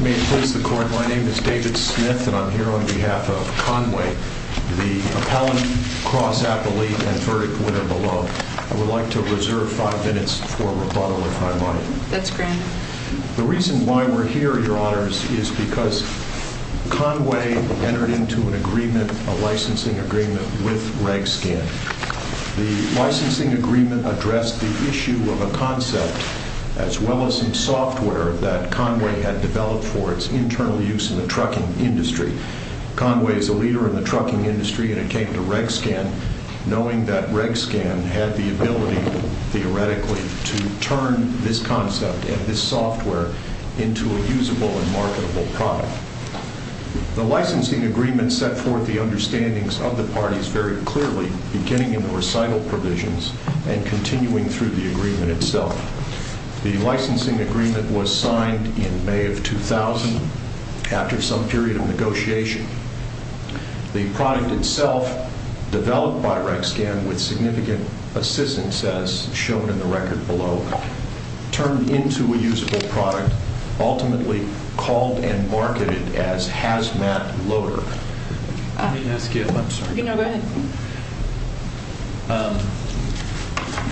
May it please the Court, my name is David Smith and I'm here on behalf of Conway, the appellant cross-appellate and verdict winner below. I would like to reserve five minutes for rebuttal if I might. That's grand. The reason why we're here, your honors, is because Conway entered into an agreement, a licensing agreement, with Regscan. The licensing agreement addressed the issue of a concept as well as some software that Conway had developed for its internal use in the trucking industry. Conway is a leader in the trucking industry and it came to Regscan knowing that Regscan had the ability, theoretically, to turn this concept and this software into a usable and marketable product. The licensing agreement set forth the understandings of the parties very clearly, beginning in the recital provisions and continuing through the agreement itself. The licensing agreement was signed in May of 2000 after some period of negotiation. The product itself, developed by Regscan with significant assistance, as shown in the record below, turned into a usable product, ultimately called and marketed as Hazmat Loader. Let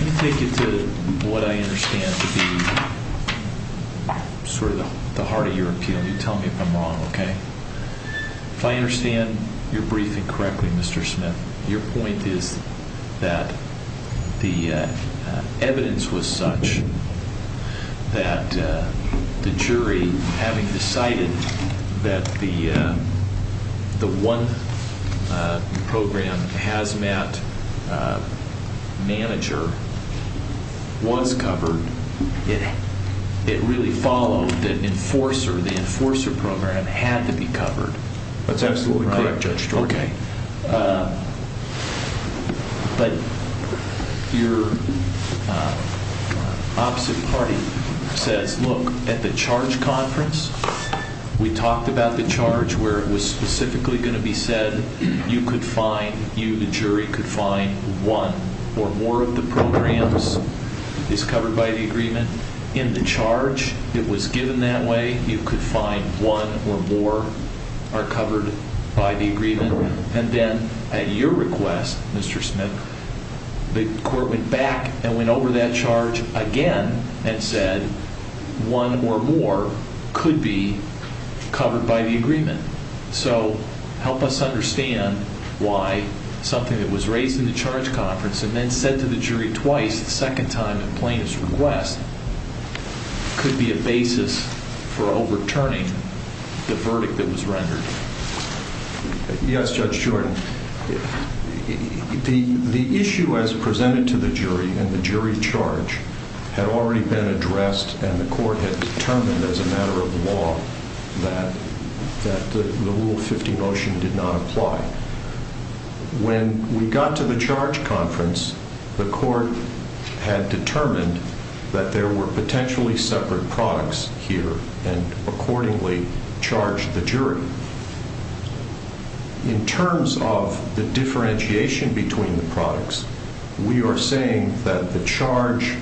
me take you to what I understand to be sort of the heart of your appeal. You tell me if I'm wrong, okay? If I understand your briefing correctly, Mr. Smith, your point is that the evidence was such that the jury, having decided that the one program, Hazmat Manager, was covered, it really followed that Enforcer, the Enforcer program, had to be covered. That's absolutely correct, Judge Stork. Okay. But your opposite party says, look, at the charge conference, we talked about the charge where it was specifically going to be said, you could find, you, the jury, could find one or more of the programs is covered by the agreement. In the charge, it was given that way. You could find one or more are The court went back and went over that charge again and said, one or more could be covered by the agreement. So help us understand why something that was raised in the charge conference and then said to the jury twice, the second time at plaintiff's request, could be a basis for overturning the The issue as presented to the jury and the jury charge had already been addressed and the court had determined as a matter of law that the Rule 50 motion did not apply. When we got to the charge conference, the court had determined that there were potentially separate products here and charge the jury. In terms of the differentiation between the products, we are saying that the charge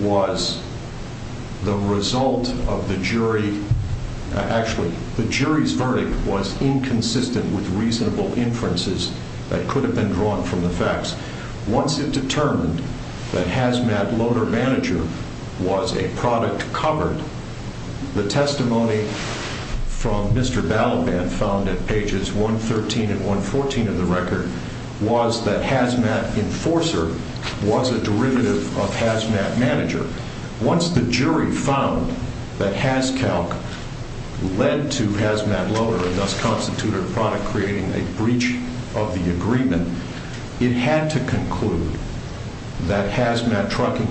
was the result of the jury. Actually, the jury's verdict was inconsistent with reasonable inferences that could have been drawn from the facts. Once it determined that hazmat loader was a product covered, the testimony from Mr. Balaban found at pages 113 and 114 of the record was that hazmat enforcer was a derivative of hazmat manager. Once the jury found that hazcalc led to hazmat loader and thus constituted a product creating a breach of the agreement, it had to have no further meaning and basically it was an unequated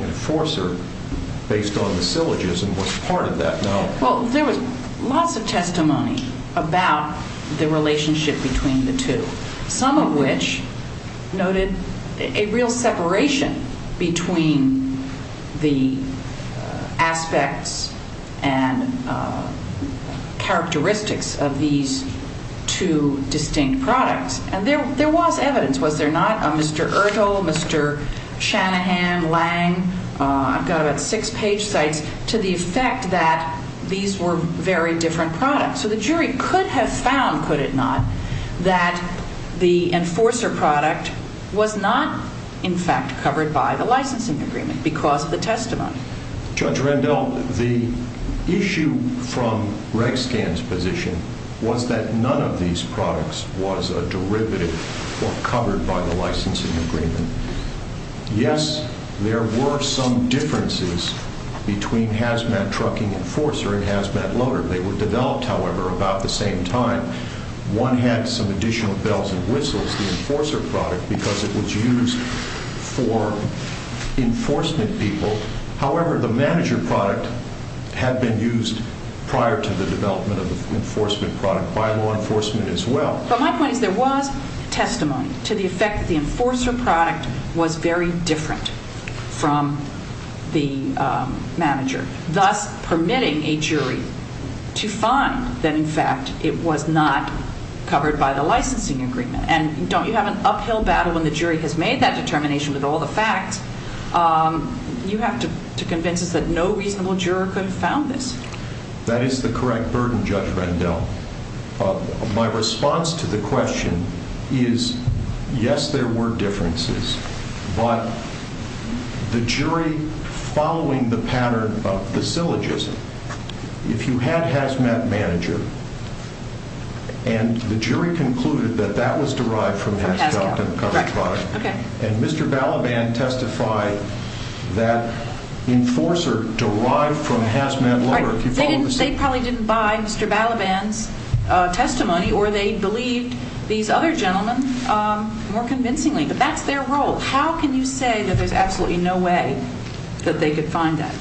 inevitability and it would make no sense for the judge or jury to dismiss the product as being the product and panelty the hash bed, and say, well, you know, we have this glorious product, 110S Manhattan, Lange, I've got about six page sites, to the effect that these were very different products. So the jury could have found, could it not, that the Enforcer product was not in fact covered by the licensing agreement because of the testimony. Judge Rendell, the issue from Reg Scan's position was that none of these products was a derivative or covered by the licensing agreement. Yes, there were some differences between Hazmat Trucking Enforcer and Hazmat Loader. They were developed, however, about the same time. One had some additional bells and whistles, the Enforcer product, because it was used for enforcement people. However, the manager product had been used prior to the development of the enforcement product by law enforcement as well. But my point is there was testimony to the effect that the Enforcer product was very different from the manager, thus permitting a jury to find that, in fact, it was not covered by the licensing agreement. And don't you have an uphill battle when the jury has made that determination with all the facts? You have to convince us that no reasonable juror could have found this. That is the correct burden, Judge Rendell. My response to the question is, yes, there were differences, but the jury following the pattern of the syllogism, if you had Hazmat Manager and the jury concluded that that was derived from Hazmat Trucking, and Mr. Balaban testified that Enforcer derived from Hazmat Loader. They probably didn't buy Mr. Balaban's testimony, or they believed these other gentlemen more convincingly. But that's their role. How can you say that there's absolutely no way that they could find that?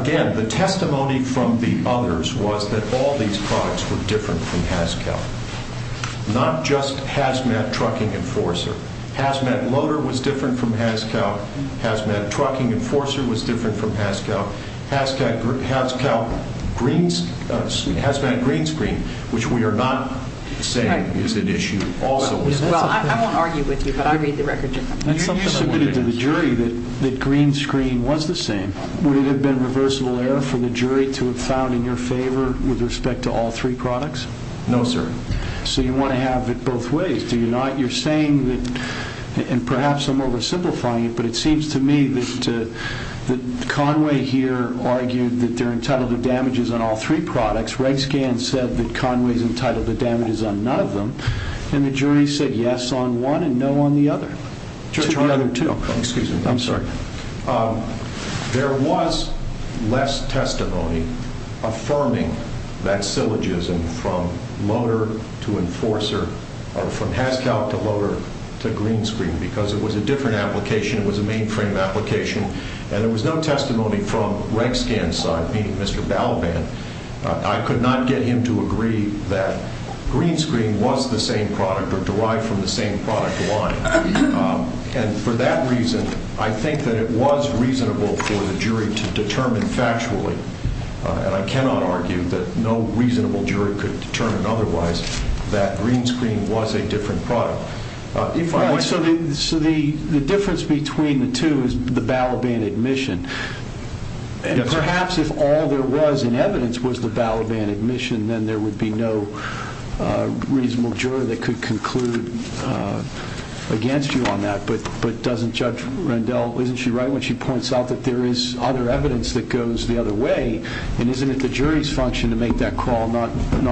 Again, the testimony from the others was that all these products were different from Hazcal. Not just Hazmat Trucking Enforcer. Hazmat Loader was different from Hazcal. Hazmat Trucking Enforcer was different from Hazcal. Hazmat Greenscreen, which we are not saying is an issue, also is an issue. Well, I won't argue with you, but I read the record differently. You submitted to the jury that Greenscreen was the same. Would it have been reversible error for the jury to have found in your favor, with respect to all three products? No, sir. So you want to have it both ways, do you not? You're saying that, and perhaps I'm oversimplifying it, but it seems to me that Conway, he's here, argued that they're entitled to damages on all three products. Reg Scan said that Conway's entitled to damages on none of them, and the jury said yes on one and no on the other. To the other two, I'm sorry. There was less testimony affirming that syllogism from Hazcal to Loader to Greenscreen, because it was a different application, it was a mainframe application, and there was no testimony from Reg Scan's side, meaning Mr. Balaban, I could not get him to agree that Greenscreen was the same product, or derived from the same product line, and for that reason, I think that it was reasonable for the jury to determine factually, and I cannot argue that no reasonable jury could determine otherwise, that Greenscreen was a different product. So the difference between the two is the Balaban admission, and perhaps if all there was in evidence was the Balaban admission, then there would be no reasonable juror that could conclude against you on that, but doesn't Judge Rendell, isn't she right when she points out that there is other evidence that goes the other way, and isn't it the jury's function to make that call, not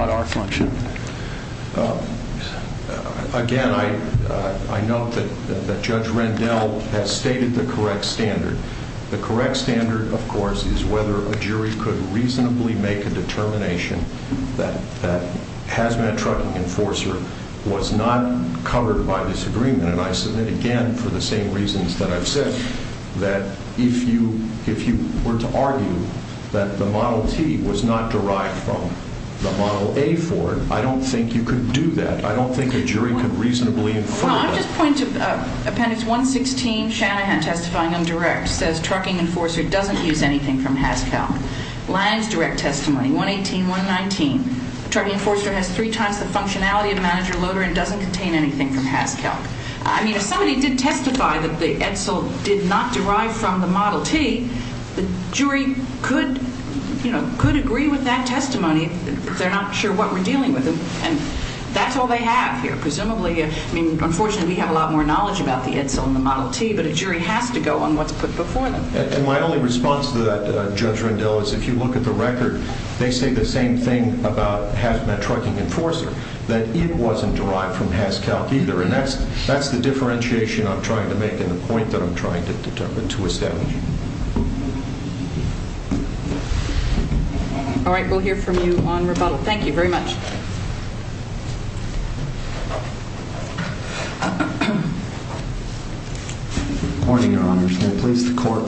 our function? Again, I note that Judge Rendell has stated the correct standard. The correct standard, of course, is whether a jury could reasonably make a determination that Hazmat Trucking Enforcer was not covered by this agreement, and I submit again, for the same reasons that I've said, that if you were to argue that the Model T was not derived from the Model A Ford, I don't think you could do that, I don't think a jury could reasonably infer that. No, I'm just pointing to Appendix 116, Shanahan testifying in direct, says Trucking Enforcer doesn't use anything from HazCalc, Lange's direct testimony, 118, 119, Trucking Enforcer has three times the functionality of Manager Loader and doesn't contain anything from HazCalc. I mean, if somebody did testify that the Edsel did not derive from the Model T, the jury could, you know, could agree with that testimony, but they're not sure what we're dealing with, and that's all they have here, presumably, I mean, unfortunately, we have a lot more knowledge about the Edsel and the Model T, but a jury has to go on what's put before them. And my only response to that, Judge Rendell, is if you look at the record, they say the same thing about Hazmat Trucking Enforcer, that it wasn't derived from HazCalc either, and that's the differentiation I'm trying to make and the point that I'm trying to establish. Thank you. All right. We'll hear from you on rebuttal. Thank you very much. Good morning, Your Honors. May it please the Court.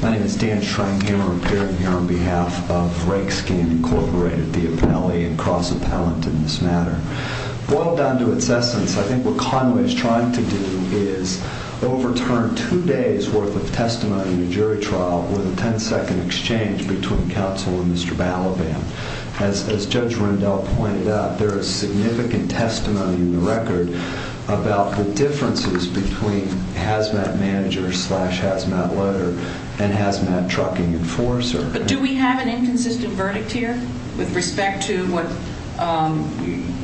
My name is Dan Schranghammer. I'm here on behalf of Rakeskin Incorporated, the appellee and cross-appellant in this matter. Boiled down to its essence, I think what Conway is trying to do is overturn two days' worth of testimony in a jury trial with a ten-second exchange between counsel and Mr. Balaban. As Judge Rendell pointed out, there is significant testimony in the record about the differences between Hazmat Manager slash Hazmat Loader and Hazmat Trucking Enforcer. But do we have an inconsistent verdict here with respect to what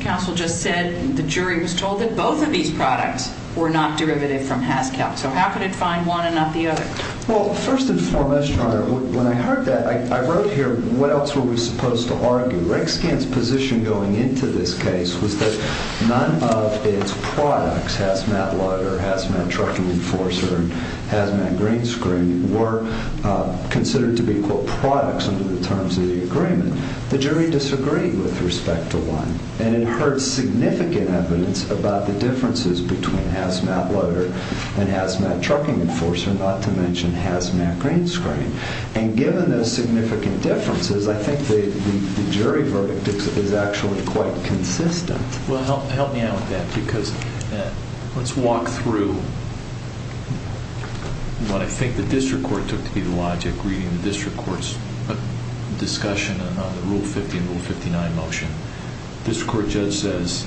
counsel just said? The jury was told that both of these products were not derivative from HazCalc. So how could it find one and not the other? Well, first and foremost, Your Honor, when I heard that, I wrote here, what else were we supposed to argue? Rakeskin's position going into this case was that none of its products, Hazmat Loader, Hazmat Trucking Enforcer, and Hazmat Green Screen, were considered to be, quote, products under the terms of the agreement. The jury disagreed with respect to one. And it heard significant evidence about the differences between Hazmat Loader and Hazmat Trucking Enforcer, not to mention Hazmat Green Screen. And given those significant differences, I think the jury verdict is actually quite consistent. Well, help me out with that, because let's walk through what I think the district court took to be the logic reading the district court's discussion on the Rule 50 and Rule 59 motion. The district court judge says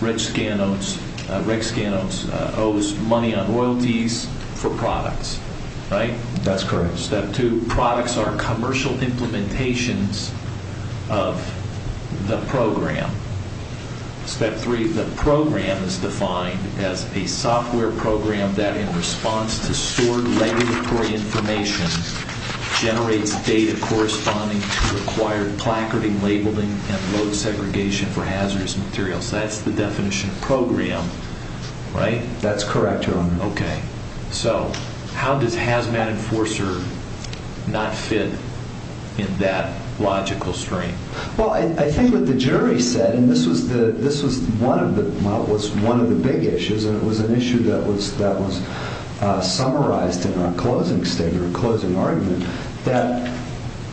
Rakeskin owes money on royalties for products, right? That's correct. Step two, products are commercial implementations of the program. Step three, the program is defined as a software program that, in response to stored legislatory information, generates data corresponding to required placarding, labeling, and load segregation for hazardous materials. That's the definition of program, right? That's correct, Your Honor. Okay. So, how does Hazmat Enforcer not fit in that logical stream? Well, I think what the jury said, and this was one of the big issues, and it was an issue that was summarized in our closing statement, our closing argument, that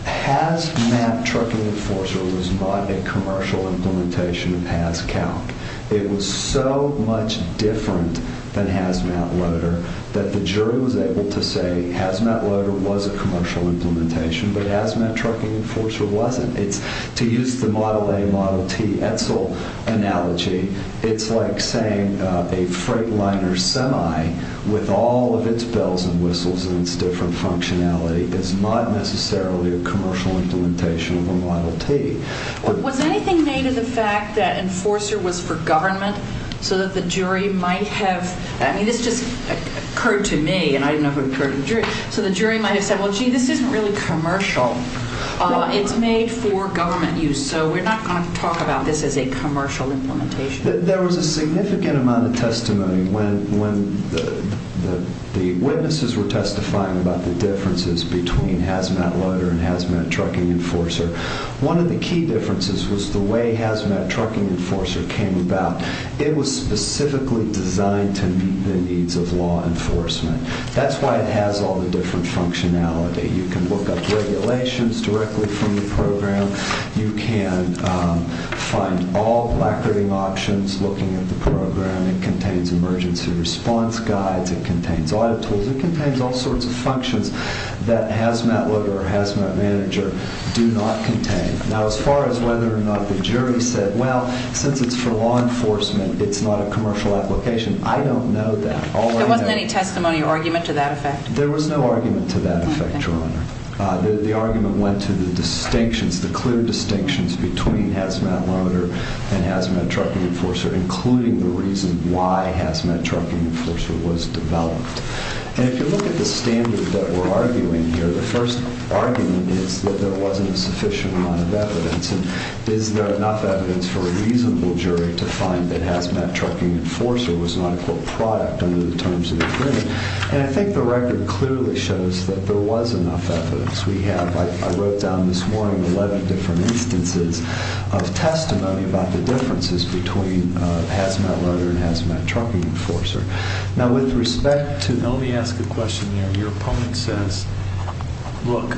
Hazmat Trucking Enforcer was not a commercial implementation of HazCount. It was so much different than Hazmat Loader that the jury was able to say Hazmat Loader was a commercial implementation, but Hazmat Trucking Enforcer wasn't. It's, to use the Model A, Model T, ETSL analogy, it's like saying a freightliner semi with all of its bells and whistles and its different functionality is not necessarily a commercial implementation of a Model T. Was anything made of the fact that Enforcer was for government so that the jury might have, I mean, this just occurred to me, and I didn't know if it occurred to the jury, so the jury might have said, well, gee, this isn't really commercial. It's made for government use, so we're not going to talk about this as a commercial implementation. There was a significant amount of testimony when the witnesses were testifying about the differences between Hazmat Loader and Hazmat Trucking Enforcer. One of the key differences was the way Hazmat Trucking Enforcer came about. It was specifically designed to meet the needs of law enforcement. That's why it has all the different functionality. You can look up regulations directly from the program. You can find all placarding options looking at the program. It contains emergency response guides. It contains audit tools. It contains all sorts of functions that Hazmat Loader or Hazmat Manager do not contain. Now, as far as whether or not the jury said, well, since it's for law enforcement, it's not a commercial application, I don't know that. There wasn't any testimony or argument to that effect? There was no argument to that effect, Your Honor. The argument went to the distinctions, the clear distinctions between Hazmat Loader and Hazmat Trucking Enforcer, including the reason why Hazmat Trucking Enforcer was developed. If you look at the standard that we're arguing here, the first argument is that there wasn't a sufficient amount of evidence. Is there enough evidence for a reasonable jury to find that Hazmat Trucking Enforcer was not a quote, product under the terms of the agreement? And I think the record clearly shows that there was enough evidence. We have, I wrote down this morning, 11 different instances of testimony about the differences between Hazmat Loader and Hazmat Trucking Enforcer. Now, with respect to- Let me ask a question here. Your opponent says, look,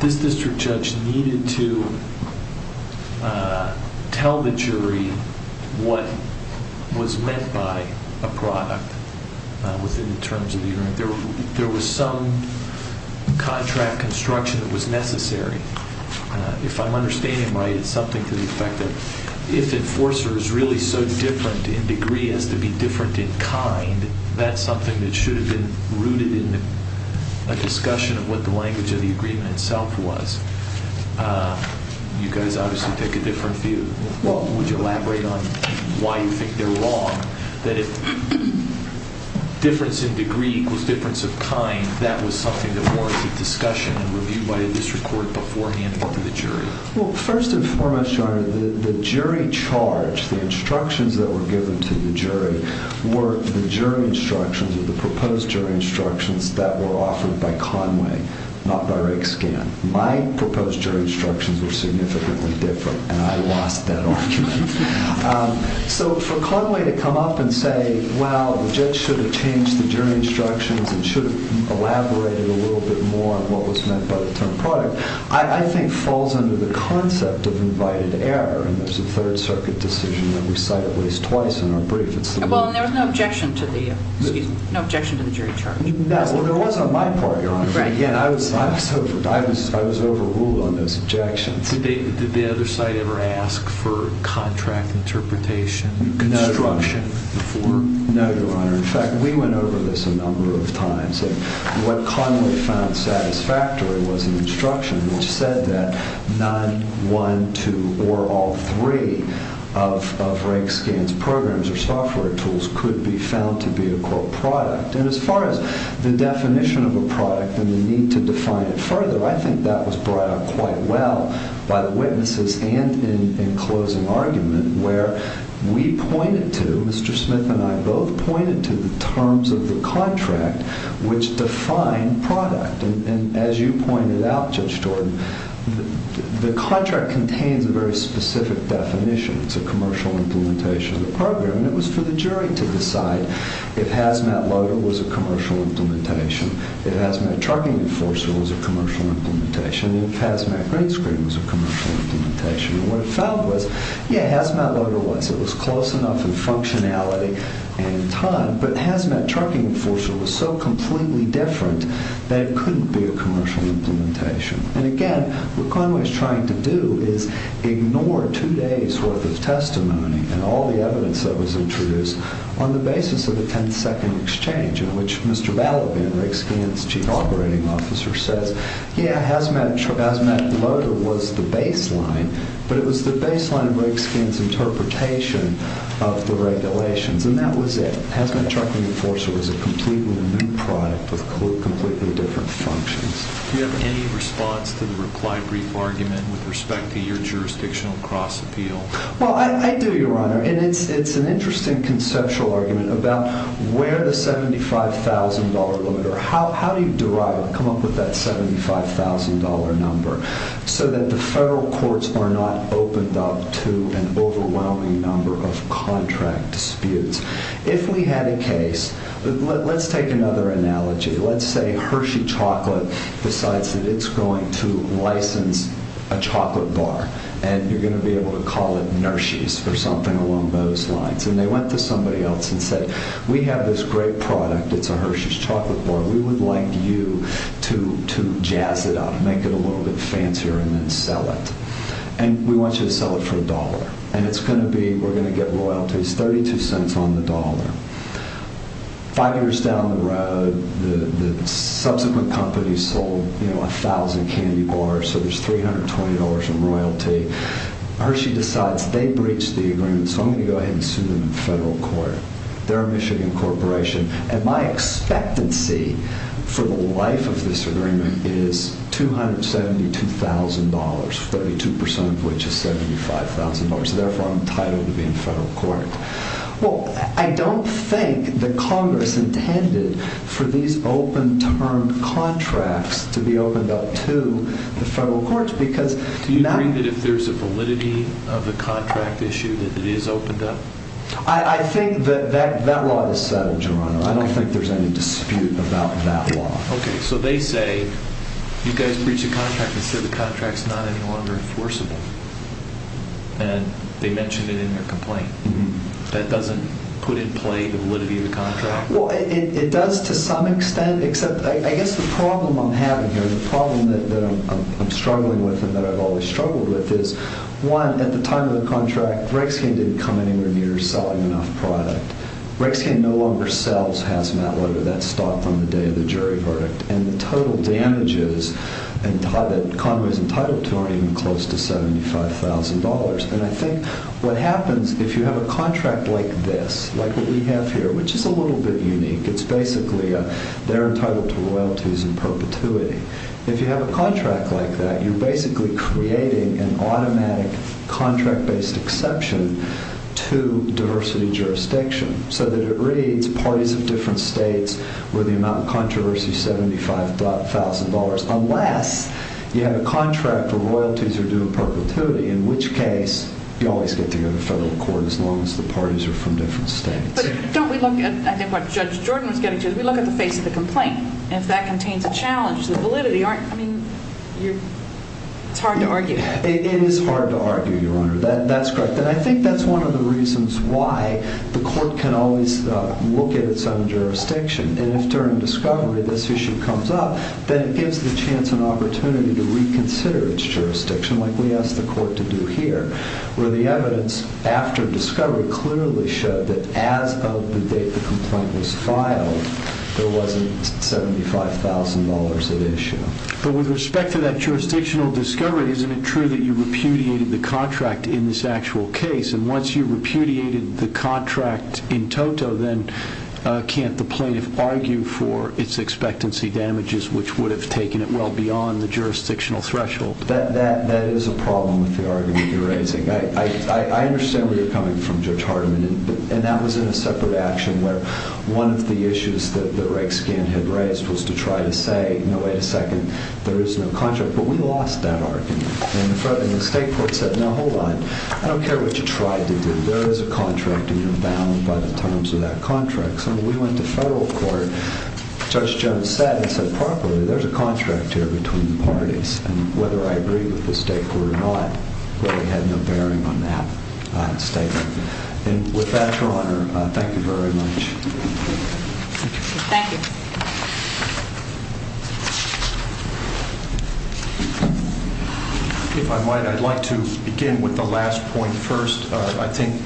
this district judge needed to tell the jury what was meant by a product within the terms of the agreement. There was some contract construction that was necessary. If I'm understanding right, it's something to the effect that if Enforcer is really so different in degree as to be different in kind, that's something that should have been rooted in a discussion of what the language of the agreement itself was. You guys obviously take a different view. Would you elaborate on why you think they're wrong, that if difference in degree equals difference of kind, that was something that warranted discussion and review by a district court beforehand or to the jury? Well, first and foremost, Your Honor, the jury charge, the instructions that were given to the jury, were the jury instructions or the proposed jury instructions that were offered by Conway, not by Rakescan. My proposed jury instructions were significantly different, and I lost that argument. So for Conway to come up and say, well, the judge should have changed the jury instructions and should have elaborated a little bit more on what was meant by the term product, I think falls under the concept of invited error, and there's a Third Circuit decision that we cite at least twice in our brief. Well, and there was no objection to the jury charge. No, well, there was on my part, Your Honor. Again, I was overruled on those objections. Did the other side ever ask for contract interpretation, construction before? No, Your Honor. In fact, we went over this a number of times, and what Conway found satisfactory was an instruction which said that none, one, two, or all three of Rakescan's programs or software tools could be found to be a quote, product. And as far as the definition of a product and the need to define it further, I think that was brought up quite well by the witnesses and in closing argument where we pointed to, Mr. Smith and I both pointed to the terms of the contract which define product. And as you pointed out, Judge Jordan, the contract contains a very specific definition. It's a commercial implementation of the program, and it was for the jury to decide if hazmat loader was a commercial implementation, if hazmat trucking enforcer was a commercial implementation, if hazmat green screen was a commercial implementation. And what it found was, yeah, hazmat loader was. It was close enough in functionality and time, but hazmat trucking enforcer was so completely different that it couldn't be a commercial implementation. And again, what Conway is trying to do is ignore two days' worth of testimony and all the evidence that was introduced on the basis of a 10-second exchange in which Mr. Balaban, Rigskin's chief operating officer, says, yeah, hazmat loader was the baseline, but it was the baseline of Rigskin's interpretation of the regulations. And that was it. Hazmat trucking enforcer was a completely new product with completely different functions. Do you have any response to the reply brief argument with respect to your jurisdictional cross-appeal? Well, I do, Your Honor. It's an interesting conceptual argument about where the $75,000 limit, or how do you derive, come up with that $75,000 number so that the federal courts are not opened up to an overwhelming number of contract disputes? If we had a case, let's take another analogy. Let's say Hershey Chocolate decides that it's going to license a chocolate bar, and you're going to sell it for $1. And they went to somebody else and said, we have this great product. It's a Hershey's chocolate bar. We would like you to jazz it up, make it a little bit fancier, and then sell it. And we want you to sell it for $1. And it's going to be, we're going to get royalties, $0.32 on the dollar. Five years down the road, the subsequent companies sold 1,000 candy bars, so there's $320 in royalty. Hershey decides, they breached the agreement, so I'm going to go ahead and sue them in the federal court. They're a Michigan corporation. And my expectancy for the life of this agreement is $272,000, 32% of which is $75,000. So therefore, I'm entitled to be in federal court. Well, I don't think that Congress intended for these open-term contracts to be opened up to the federal courts. Do you agree that if there's a validity of the contract issue, that it is opened up? I think that that law is settled, Your Honor. I don't think there's any dispute about that law. Okay. So they say, you guys breached a contract that said the contract's not any longer enforceable. And they mentioned it in their complaint. That doesn't put in play the validity of the contract? Well, it does to some extent, except I guess the problem I'm having here, the problem that I'm struggling with and that I've always struggled with is, one, at the time of the contract, Rexhaim didn't come anywhere near selling enough product. Rexhaim no longer sells Hazmat, whatever that stock, on the day of the jury verdict. And the total damages that Conway's entitled to aren't even close to $75,000. And I think what happens if you have a contract like this, like what we have here, which is a little bit unique, it's basically they're entitled to royalties in perpetuity. If you have a contract like that, you're basically creating an automatic contract-based exception to diversity jurisdiction so that it reads parties of different states where the amount of controversy is $75,000, unless you have a contract where royalties are due in perpetuity, in which case you always get to go to federal court as long as the parties are from different states. But don't we look at, I think what Judge Jordan was getting to, is we look at the face of the complaint. And if that contains a challenge to the validity, it's hard to argue. It is hard to argue, Your Honor. That's correct. And I think that's one of the reasons why the court can always look at its own jurisdiction. And if, during discovery, this issue comes up, then it gives the chance and opportunity to reconsider its jurisdiction, like we asked the court to do here, where the evidence after the complaint was filed, there wasn't $75,000 at issue. But with respect to that jurisdictional discovery, isn't it true that you repudiated the contract in this actual case? And once you repudiated the contract in toto, then can't the plaintiff argue for its expectancy damages, which would have taken it well beyond the jurisdictional threshold? That is a problem with the argument you're raising. I understand where you're coming from, Judge Hardiman. And that was in a separate action, where one of the issues that Rakeskin had raised was to try to say, no, wait a second, there is no contract. But we lost that argument. And the state court said, no, hold on. I don't care what you tried to do. There is a contract, and you're bound by the terms of that contract. So we went to federal court. Judge Jones said, and said properly, there's a contract here between the parties. And whether I agree with the state court or not, really had no bearing on that statement. And with that, Your Honor, thank you very much. If I might, I'd like to begin with the last point first. I think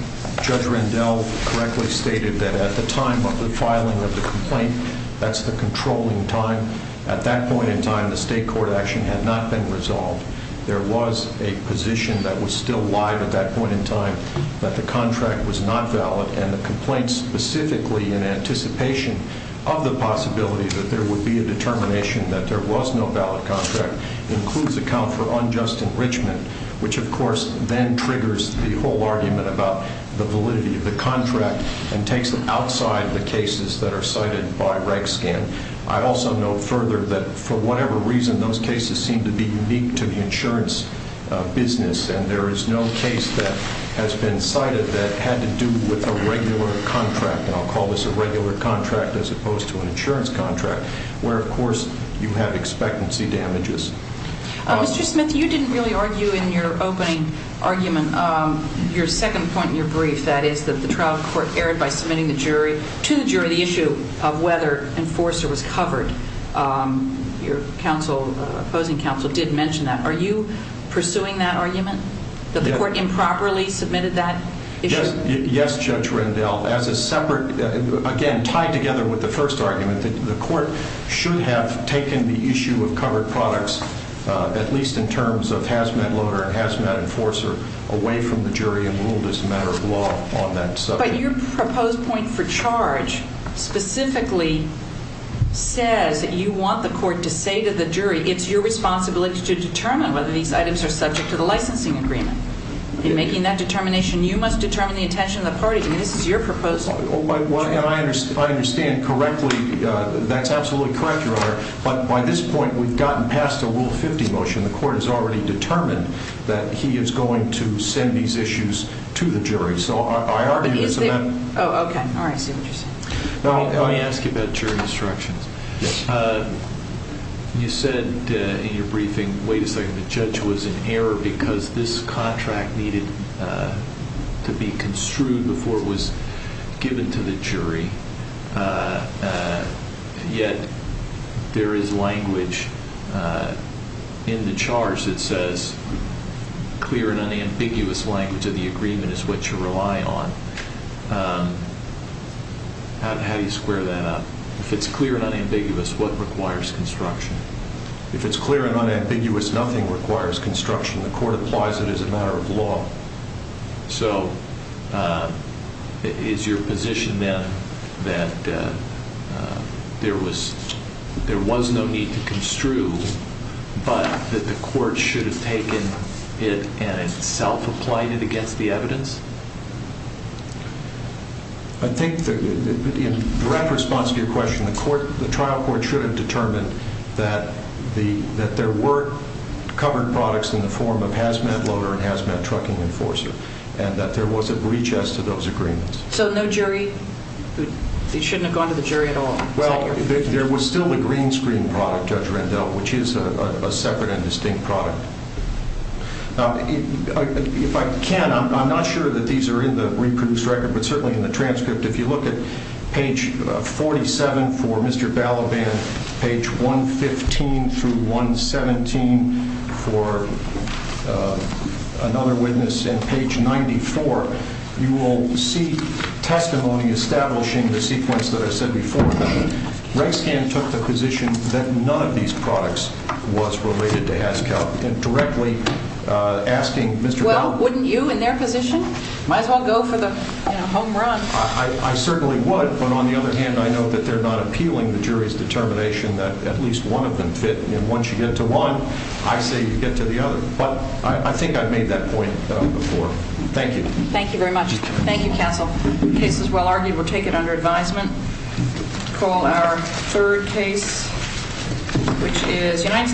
Judge Rendell correctly stated that at the time of the filing of the complaint, that's the controlling time. At that point in time, the state court action had not been resolved. There was a position that was still live at that point in time that the contract was not valid. And the complaint specifically in anticipation of the possibility that there would be a determination that there was no valid contract includes account for unjust enrichment, which of course then triggers the whole argument about the validity of the contract and takes them outside the cases that are cited by Rakeskin. I also note further that for whatever reason, those cases seem to be unique to the insurance business. And there is no case that has been cited that had to do with a regular contract, and I'll call this a regular contract as opposed to an insurance contract, where of course you have expectancy damages. Mr. Smith, you didn't really argue in your opening argument, your second point in your brief, that is that the trial court erred by submitting to the jury the issue of whether enforcer was covered. Your opposing counsel did mention that. Are you pursuing that argument? That the court improperly submitted that issue? Yes, Judge Rendell. As a separate, again, tied together with the first argument, the court should have taken the issue of covered products, at least in terms of hazmat loader and hazmat enforcer, away from the jury and ruled as a matter of law on that subject. But your proposed point for charge specifically says that you want the court to say to the jury, it's your responsibility to determine whether these items are subject to the licensing agreement. In making that determination, you must determine the intention of the parties. I mean, this is your proposal. Well, I understand correctly. That's absolutely correct, Your Honor. But by this point, we've gotten past a Rule 50 motion. The court has already determined that he is going to send these issues to the jury. So I argue that's a matter... Oh, okay. All right. I see what you're saying. Now, let me ask you about jury instructions. You said in your briefing, wait a second, the judge was in error because this contract needed to be construed before it was given to the jury. Yet there is language in the charge that says, clear and unambiguous language of the agreement is what you rely on. How do you square that up? If it's clear and unambiguous, what requires construction? If it's clear and unambiguous, nothing requires construction. The court applies it as a matter of law. So is your position then that there was no need to construe, but that the court should have taken it and itself applied it against the evidence? I think that in direct response to your question, the trial court should have determined that there were covered products in the form of hazmat loader and hazmat trucking enforcer, and that there was a breach as to those agreements. So no jury, they shouldn't have gone to the jury at all? Well, there was still the green screen product, Judge Rendell, which is a separate and distinct product. If I can, I'm not sure that the jury in the reproduced record, but certainly in the transcript, if you look at page 47 for Mr. Balaban, page 115 through 117 for another witness, and page 94, you will see testimony establishing the sequence that I said before. Reg Scan took the position that none of these products was related to HazCal, and directly asking Mr. Balaban. Wouldn't you, in their position, might as well go for the home run? I certainly would, but on the other hand, I know that they're not appealing the jury's determination that at least one of them fit, and once you get to one, I say you get to the other. But I think I've made that point before. Thank you. Thank you very much. Thank you, counsel. Case is well argued. We'll take it under advisement. Call our third case, which is United States.